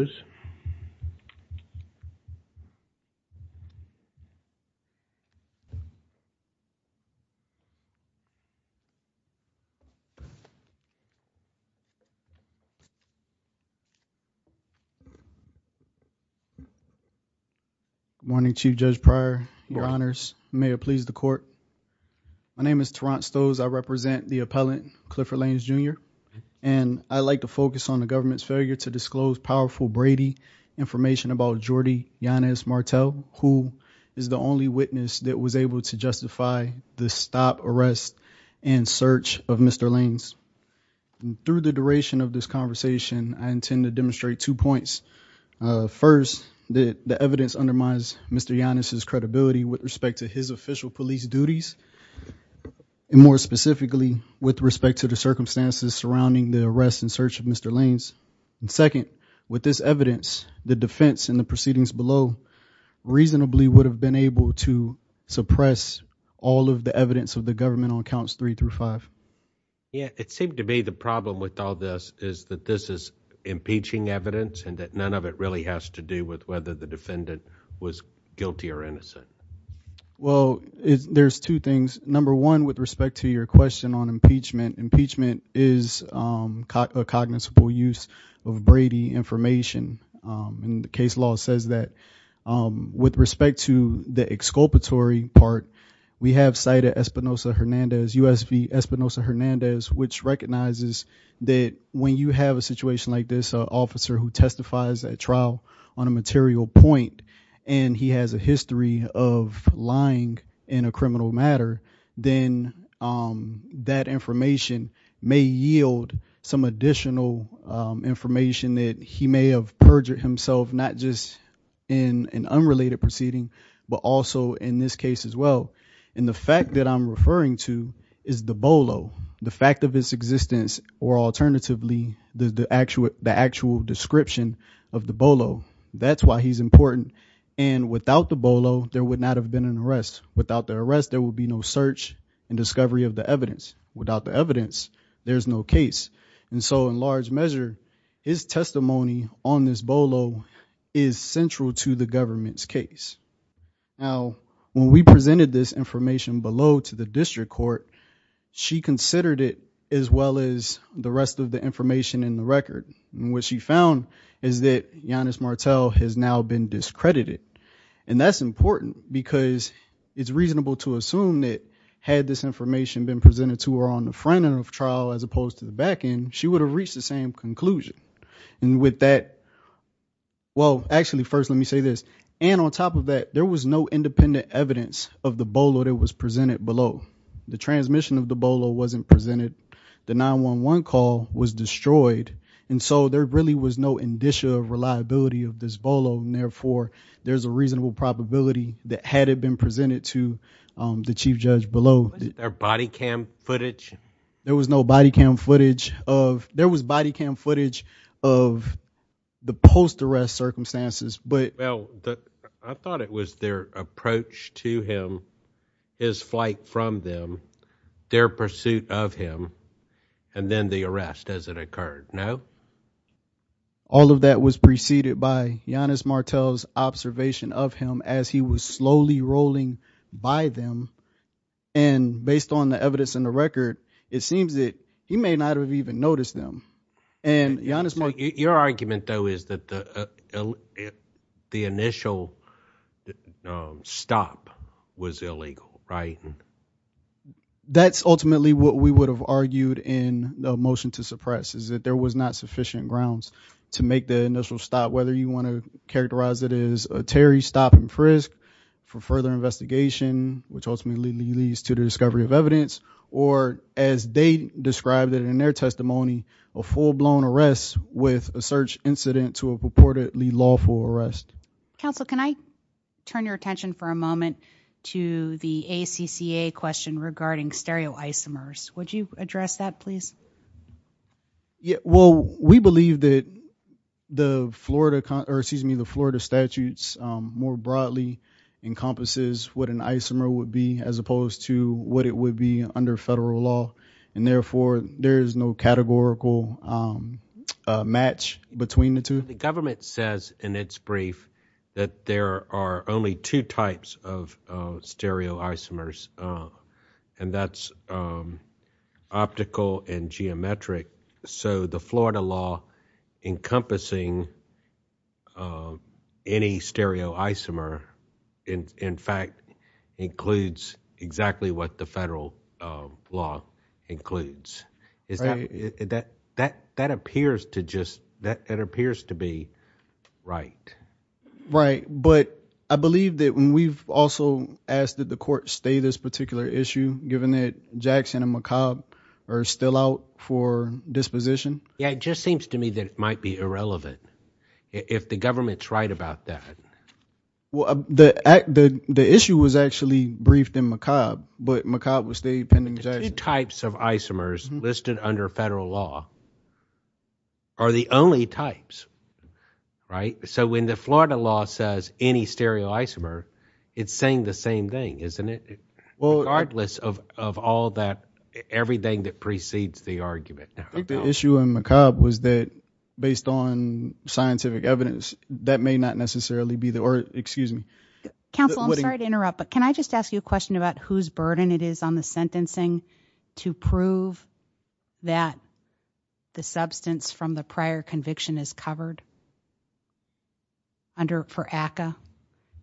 Good morning, Chief Judge Pryor, Your Honors, may it please the Court, my name is Terrant Stowes, I represent the appellant, Clifford Laines, Jr., and I'd like to focus on the Brady information about Jordi Yanez Martel, who is the only witness that was able to justify the stop, arrest, and search of Mr. Laines. Through the duration of this conversation, I intend to demonstrate two points. First, the evidence undermines Mr. Yanez's credibility with respect to his official police duties, and more specifically, with respect to the circumstances surrounding the arrest and search of Mr. Laines. And second, with this evidence, the defense and the proceedings below reasonably would have been able to suppress all of the evidence of the government on counts three through five. Yeah, it seemed to be the problem with all this is that this is impeaching evidence and that none of it really has to do with whether the defendant was guilty or innocent. Well, there's two things. Number one, with respect to your question on impeachment, impeachment is a cognizable use of Brady information, and the case law says that. With respect to the exculpatory part, we have cited Espinosa-Hernandez, USP Espinosa-Hernandez, which recognizes that when you have a situation like this, an officer who testifies at trial on a material point, and he has a history of lying in a criminal matter, then that information may yield some additional information that he may have perjured himself, not just in an unrelated proceeding, but also in this case as well. And the fact that I'm referring to is the BOLO, the fact of its existence, or alternatively, the actual description of the BOLO. That's why he's important. And without the BOLO, there would not have been an arrest. Without the arrest, there would be no search and discovery of the evidence. Without the evidence, there's no case. And so, in large measure, his testimony on this BOLO is central to the government's case. Now, when we presented this information below to the district court, she considered it as well as the rest of the information in the record, and what she found is that Yanis Martel has now been discredited. And that's important, because it's reasonable to assume that, had this information been presented to her on the front end of the trial, as opposed to the back end, she would have reached the same conclusion. And with that, well, actually, first, let me say this. And on top of that, there was no independent evidence of the BOLO that was presented below. The transmission of the BOLO wasn't presented. The 911 call was destroyed. And so, there really was no indicia of reliability of this BOLO, and therefore, there's a reasonable probability that, had it been presented to the chief judge below- There was no body cam footage? There was no body cam footage. There was body cam footage of the post-arrest circumstances, but- Well, I thought it was their approach to him, his flight from them, their pursuit of him, and then the arrest as it occurred, no? All of that was preceded by Yanis Martel's observation of him as he was slowly rolling by them, and based on the evidence in the record, it seems that he may not have even noticed them. And Yanis Martel- Your argument, though, is that the initial stop was illegal, right? That's ultimately what we would have argued in the motion to suppress, is that there was not sufficient grounds to make the initial stop, whether you want to characterize it as a Terry stop-and-frisk for further investigation, which ultimately leads to the discovery of evidence, or as they described it in their testimony, a full-blown arrest with a search incident to a purportedly lawful arrest. Counsel, can I turn your attention for a moment to the ACCA question regarding stereoisomers? Would you address that, please? Yeah, well, we believe that the Florida, excuse me, the Florida statutes more broadly encompasses what an isomer would be as opposed to what it would be under federal law, and therefore there is no categorical match between the two. The government says in its brief that there are only two types of stereoisomers, and that's optical and geometric, so the Florida law encompassing any stereoisomer, in fact, includes exactly what the federal law includes. That appears to just, that appears to be right. Right, but I believe that we've also asked that the court stay this particular issue, given that Jackson and McCobb are still out for disposition. Yeah, it just seems to me that it might be irrelevant, if the government's right about that. Well, the issue was actually briefed in McCobb, but McCobb was still pending Jackson. The two types of isomers listed under federal law are the only types, right? So when the Florida law says any stereoisomer, it's saying the same thing, isn't it, regardless of all that, everything that precedes the argument. I think the issue in McCobb was that, based on scientific evidence, that may not necessarily be the, or excuse me. Counsel, I'm sorry to interrupt, but can I just ask you a question about whose burden it is on the sentencing to prove that the substance from the prior conviction is covered under, for ACCA?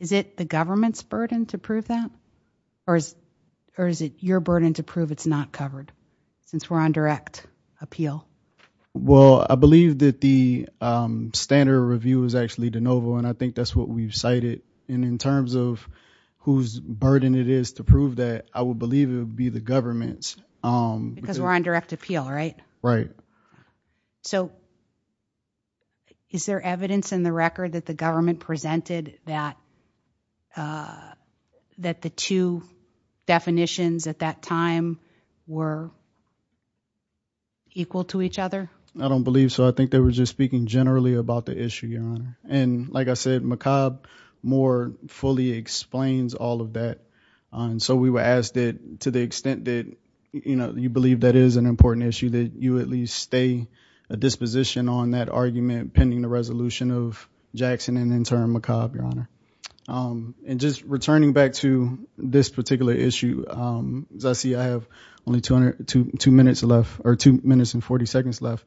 Is it the government's burden to prove that? Or is it your burden to prove it's not covered, since we're on direct appeal? Well, I believe that the standard review is actually de novo, and I think that's what we've cited. And in terms of whose burden it is to prove that, I would believe it would be the government's. Because we're on direct appeal, right? Right. So is there evidence in the record that the government presented that the two definitions at that time were equal to each other? I don't believe so. I think they were just speaking generally about the issue, Your Honor. And like I said, McCobb more fully explains all of that. So we were asked that, to the extent that you believe that is an important issue, that you at least stay at this position on that argument pending the resolution of Jackson and in turn McCobb, Your Honor. And just returning back to this particular issue, because I see I have only two minutes left, or two minutes and 40 seconds left.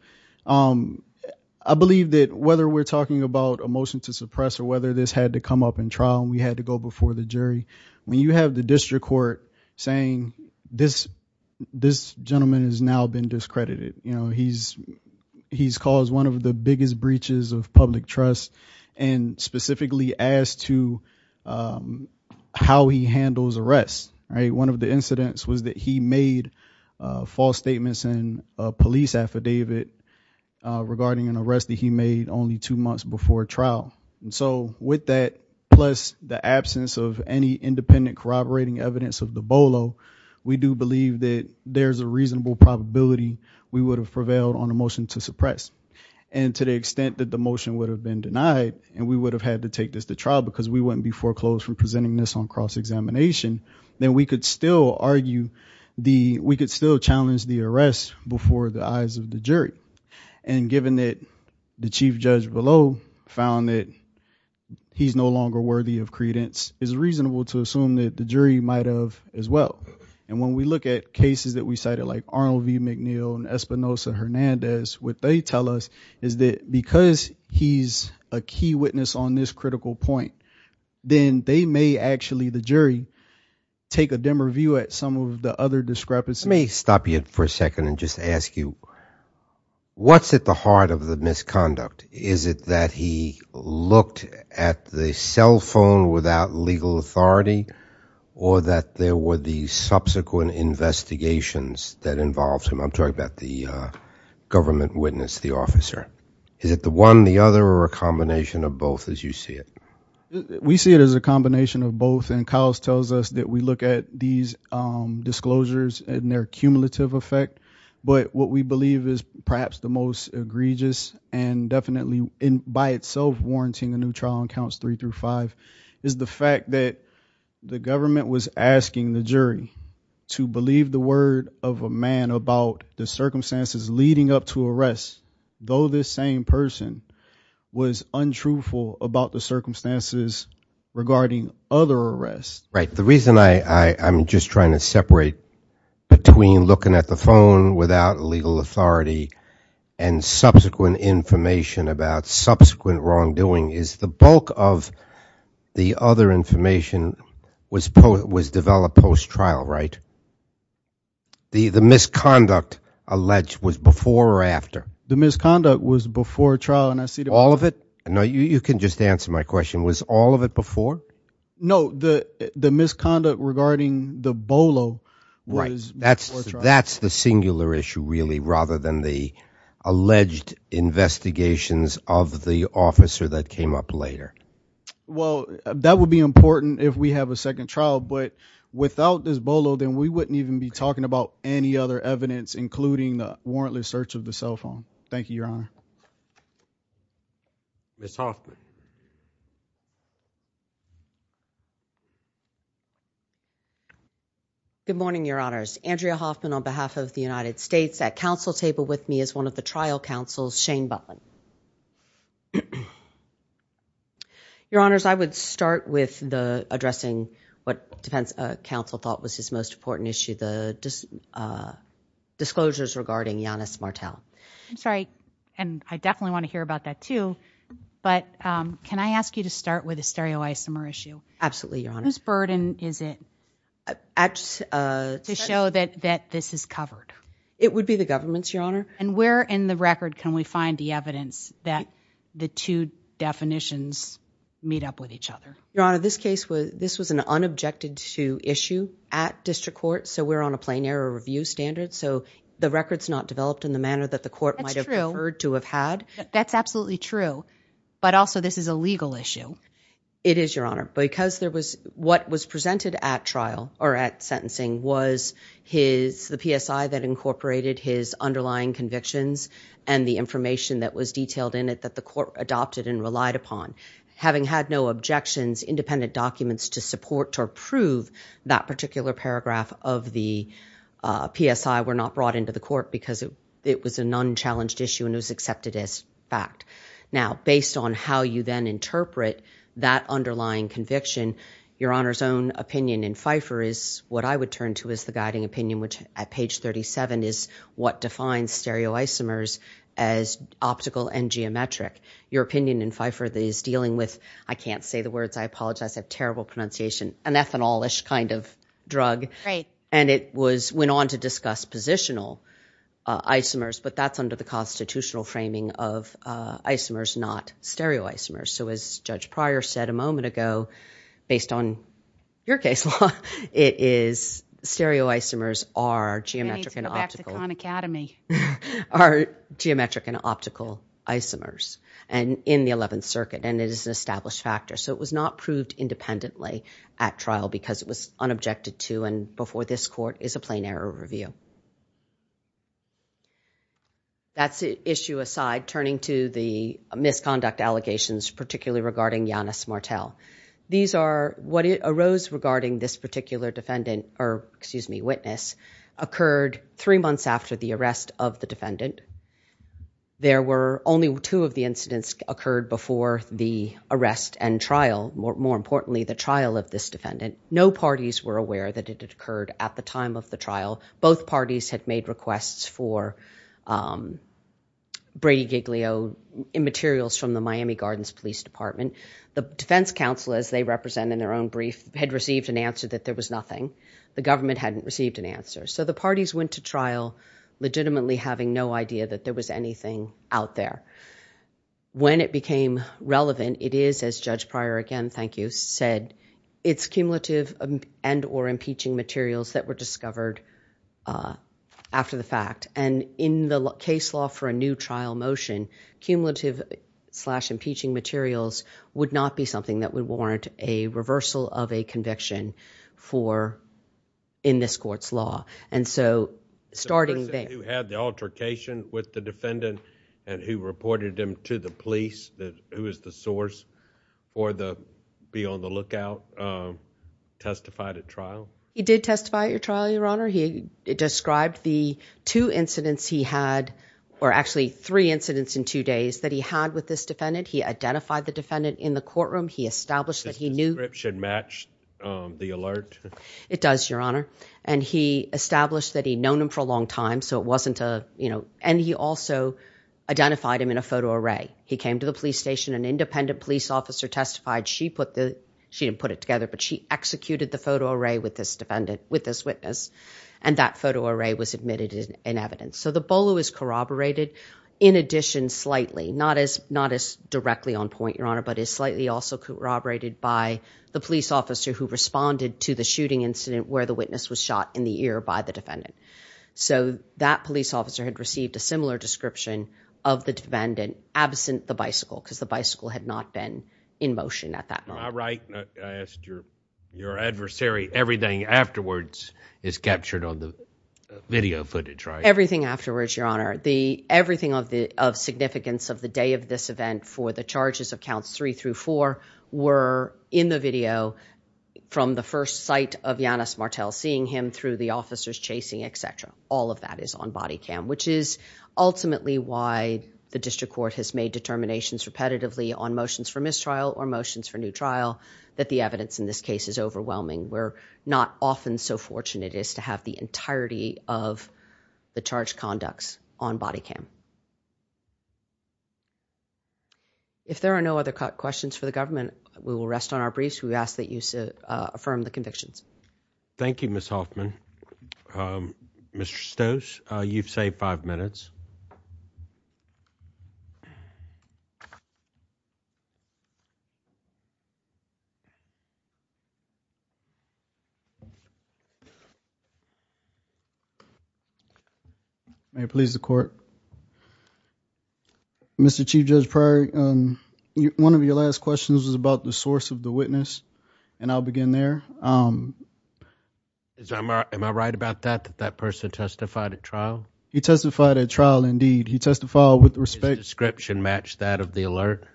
I believe that whether we're talking about a motion to suppress, or whether this had to come up in trial, and we had to go before the jury, when you have the district court saying this gentleman has now been discredited. He's caused one of the biggest breaches of public trust, and specifically as to how he handles arrests. One of the incidents was that he made false statements in a police affidavit regarding an arrest that he made only two months before trial. So with that, plus the absence of any independent corroborating evidence of the BOLO, we do believe that there's a reasonable probability we would have prevailed on a motion to suppress. And to the extent that the motion would have been denied, and we would have had to take this to trial because we wouldn't be foreclosed from presenting this on cross-examination, then we could still argue, we could still challenge the arrest before the eyes of the jury. And given that the chief judge BOLO found that he's no longer worthy of credence, it's reasonable to assume that the jury might have as well. And when we look at cases that we cited like Arnold v. McNeil and Espinosa-Hernandez, what they tell us is that because he's a key witness on this critical point, then they may actually, the jury, take a dimmer view at some of the other discrepancies. Let me stop you for a second and just ask you, what's at the heart of the misconduct? Is it that he looked at the cell phone without legal authority, or that there were the subsequent investigations that involved him? I'm talking about the government witness, the officer. Is it the one, the other, or a combination of both as you see it? We see it as a combination of both. And Kyle's tells us that we look at these disclosures and their cumulative effect. But what we believe is perhaps the most egregious, and definitely, by itself, warranting a new trial in counts three through five, is the fact that the government was asking the jury to believe the word of a man about the circumstances leading up to arrest, though this same person was untruthful about the circumstances regarding other arrests. Right. The reason I'm just trying to separate between looking at the phone without legal authority and subsequent information about subsequent wrongdoing is the bulk of the other information was developed post-trial, right? The misconduct alleged was before or after? The misconduct was before trial, and I see the- All of it? No, you can just answer my question. Was all of it before? No, the misconduct regarding the bolo was before trial. Right. That's the singular issue, really, rather than the alleged investigations of the officer that came up later. Well, that would be important if we have a second trial, but without this bolo, then we wouldn't even be talking about any other evidence, including the warrantless search of the cell phone. Thank you, Your Honor. Ms. Hoffman. Good morning, Your Honors. Andrea Hoffman on behalf of the United States. At counsel table with me is one of the trial counsels, Shane Butler. Your Honors, I would start with addressing what counsel thought was his most important issue, the disclosures regarding Yanis Martel. I'm sorry, and I definitely want to hear about that too, but can I ask you to start with a stereoisomer issue? Absolutely, Your Honor. Whose burden is it to show that this is covered? It would be the government's, Your Honor. And where in the record can we find the evidence that the two definitions meet up with each other? Your Honor, this was an unobjected issue at district court, so we're on a plain error review standard, so the record's not developed in the manner that the court might have preferred to have had. That's true. That's absolutely true. But also, this is a legal issue. It is, Your Honor. Because what was presented at trial, or at sentencing, was the PSI that incorporated his underlying convictions and the information that was detailed in it that the court adopted and relied upon. Having had no objections, independent documents to support or prove that particular paragraph of the PSI were not brought into the court because it was an unchallenged issue and it was accepted as fact. Now, based on how you then interpret that underlying conviction, Your Honor's own opinion in FIFER is what I would turn to as the guiding opinion, which at page 37 is what defines stereoisomers as optical and geometric. Your opinion in FIFER is dealing with, I can't say the words, I apologize, I have terrible pronunciation, an ethanol-ish kind of drug. And it went on to discuss positional isomers, but that's under the constitutional framing of isomers, not stereoisomers. So as Judge Pryor said a moment ago, based on your case law, stereoisomers are geometric and optical isomers in the Eleventh Circuit, and it is an established factor. So it was not proved independently at trial because it was unobjected to and before this court is a plain error review. That's issue aside, turning to the misconduct allegations, particularly regarding Yanis Martel. These are what arose regarding this particular defendant, or excuse me, witness, occurred three months after the arrest of the defendant. There were only two of the incidents occurred before the arrest and trial, more importantly the trial of this defendant. No parties were aware that it had occurred at the time of the trial. Both parties had made requests for Brady Giglio materials from the Miami Gardens Police Department. The defense counsel, as they represent in their own brief, had received an answer that there was nothing. The government hadn't received an answer. So the parties went to trial legitimately having no idea that there was anything out there. When it became relevant, it is, as Judge Pryor again, thank you, said, it's cumulative and or impeaching materials that were discovered after the fact. In the case law for a new trial motion, cumulative slash impeaching materials would not be something that would warrant a reversal of a conviction in this court's law. Starting there. The person who had the altercation with the defendant and who reported him to the police, who was the source for the be on the lookout, testified at trial? He did testify at your trial, Your Honor. He described the two incidents he had, or actually three incidents in two days that he had with this defendant. He identified the defendant in the courtroom. He established that he knew it should match the alert. It does, Your Honor. And he established that he'd known him for a long time. So it wasn't a, you know, and he also identified him in a photo array. He came to the police station, an independent police officer testified. She put the, she didn't put it together, but she executed the photo array with this defendant with this witness. And that photo array was admitted in evidence. So the Bolo is corroborated in addition slightly, not as, not as directly on point, Your Honor, but is slightly also corroborated by the police officer who responded to the shooting incident where the witness was shot in the ear by the defendant. So that police officer had received a similar description of the defendant absent the bicycle because the bicycle had not been in motion at that moment. Am I right? I asked your, your adversary, everything afterwards is captured on the video footage, right? Everything afterwards, Your Honor, the, everything of the, of significance of the day of this event for the charges of counts three through four were in the video from the first sight of Yanis Martel, seeing him through the officers chasing, et cetera. All of that is on body cam, which is ultimately why the district court has made determinations repetitively on motions for mistrial or motions for new trial, that the evidence in this case is overwhelming. We're not often so fortunate as to have the entirety of the charge conducts on body cam. If there are no other questions for the government, we will rest on our briefs. We've asked that you affirm the convictions. Thank you, Ms. Hoffman, Mr. Stoes. You've saved five minutes. May it please the court. Mr. Chief Judge Pryor, one of your last questions was about the source of the witness, and I'll begin there. Am I, am I right about that, that that person testified at trial? He testified at trial, indeed. He testified with respect. Did his description match that of the alert?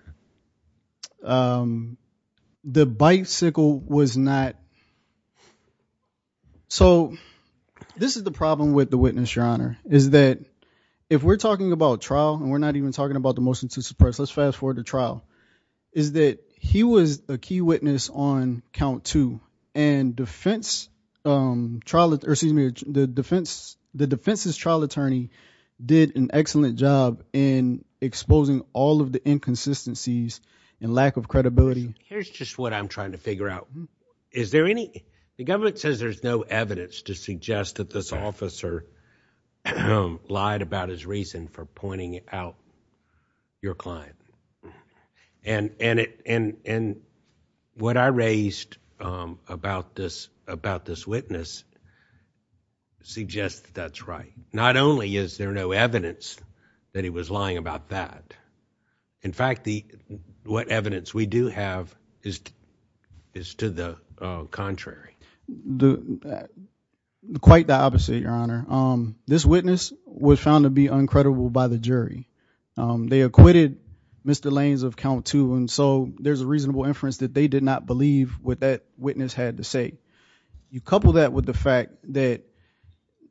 The bicycle was not, so this is the problem with the witness, Your Honor, is that if we're talking about trial, and we're not even talking about the motion to suppress, let's fast forward to trial, is that he was a key witness on count two, and defense, trial, or excuse me, the defense, the defense's trial attorney did an excellent job in exposing all of the inconsistencies and lack of credibility. Here's just what I'm trying to figure out. Is there any, the government says there's no evidence to suggest that this officer lied about his reason for pointing out your client, and, and it, and, and what I raised about this, about this witness suggests that that's right. Not only is there no evidence that he was lying about that, in fact, the, what evidence we do have is, is to the contrary. Quite the opposite, Your Honor. This witness was found to be uncredible by the jury. They acquitted Mr. Lanes of count two, and so there's a reasonable inference that they did not believe what that witness had to say. You couple that with the fact that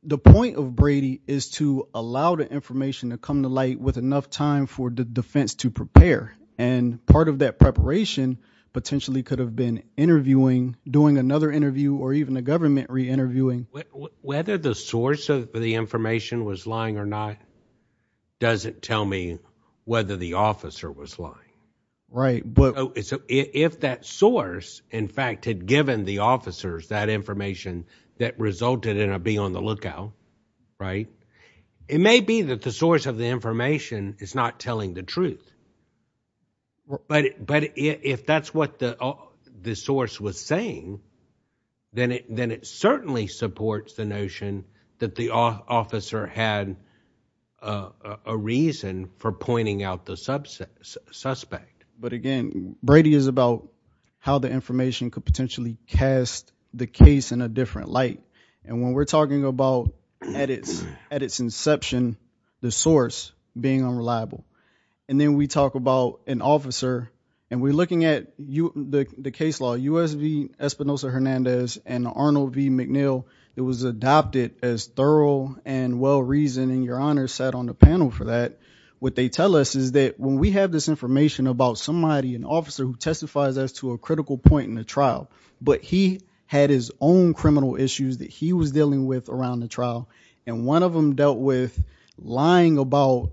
the point of Brady is to allow the information to come to light with enough time for the defense to prepare, and part of that preparation potentially could have been interviewing, doing another interview, or even a government re-interviewing. Whether the source of the information was lying or not doesn't tell me whether the officer was lying. Right. But if that source, in fact, had given the officers that information that resulted in a be on the lookout, right, it may be that the source of the information is not telling the truth. But if that's what the source was saying, then it certainly supports the notion that the officer had a reason for pointing out the suspect. But again, Brady is about how the information could potentially cast the case in a different light. And when we're talking about, at its inception, the source being unreliable, and then we talk about an officer, and we're looking at the case law, U.S. v. Espinosa-Hernandez and Arnold v. McNeil, it was adopted as thorough and well-reasoned, and Your Honor sat on the panel for that. What they tell us is that when we have this information about somebody, an officer who that he was dealing with around the trial, and one of them dealt with lying about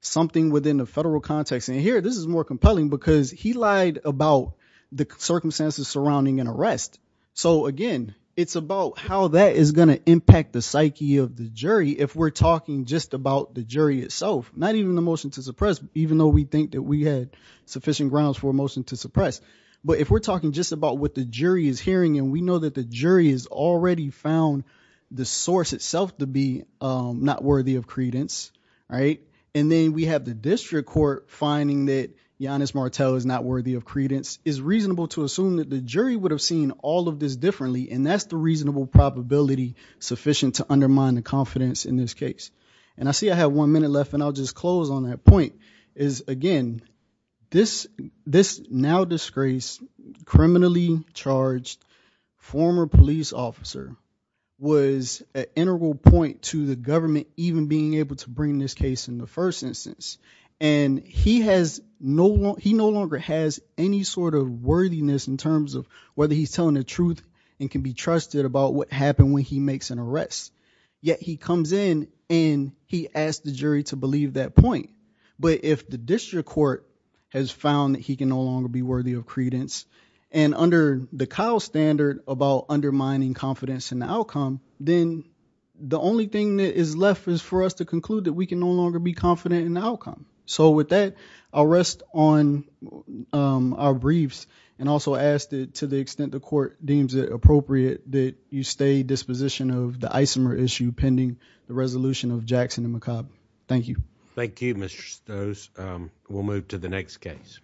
something within the federal context, and here, this is more compelling, because he lied about the circumstances surrounding an arrest. So again, it's about how that is going to impact the psyche of the jury if we're talking just about the jury itself, not even the motion to suppress, even though we think that we had sufficient grounds for a motion to suppress. But if we're talking just about what the jury is hearing, and we know that the jury has already found the source itself to be not worthy of credence, and then we have the district court finding that Giannis Martel is not worthy of credence, it's reasonable to assume that the jury would have seen all of this differently, and that's the reasonable probability sufficient to undermine the confidence in this case. And I see I have one minute left, and I'll just close on that point, is again, this now-disgraced, criminally-charged former police officer was an integral point to the government even being able to bring this case in the first instance, and he no longer has any sort of worthiness in terms of whether he's telling the truth and can be trusted about what happened when he makes an arrest, yet he comes in and he asks the jury to believe that point. But if the district court has found that he can no longer be worthy of credence, and under the Kyle standard about undermining confidence in the outcome, then the only thing that is left is for us to conclude that we can no longer be confident in the outcome. So with that, I'll rest on our briefs, and also ask that to the extent the court deems it appropriate that you stay disposition of the Isomer issue pending the resolution of Jackson and McCobb. Thank you. Thank you, Mr. Stoes. We'll move to the next case.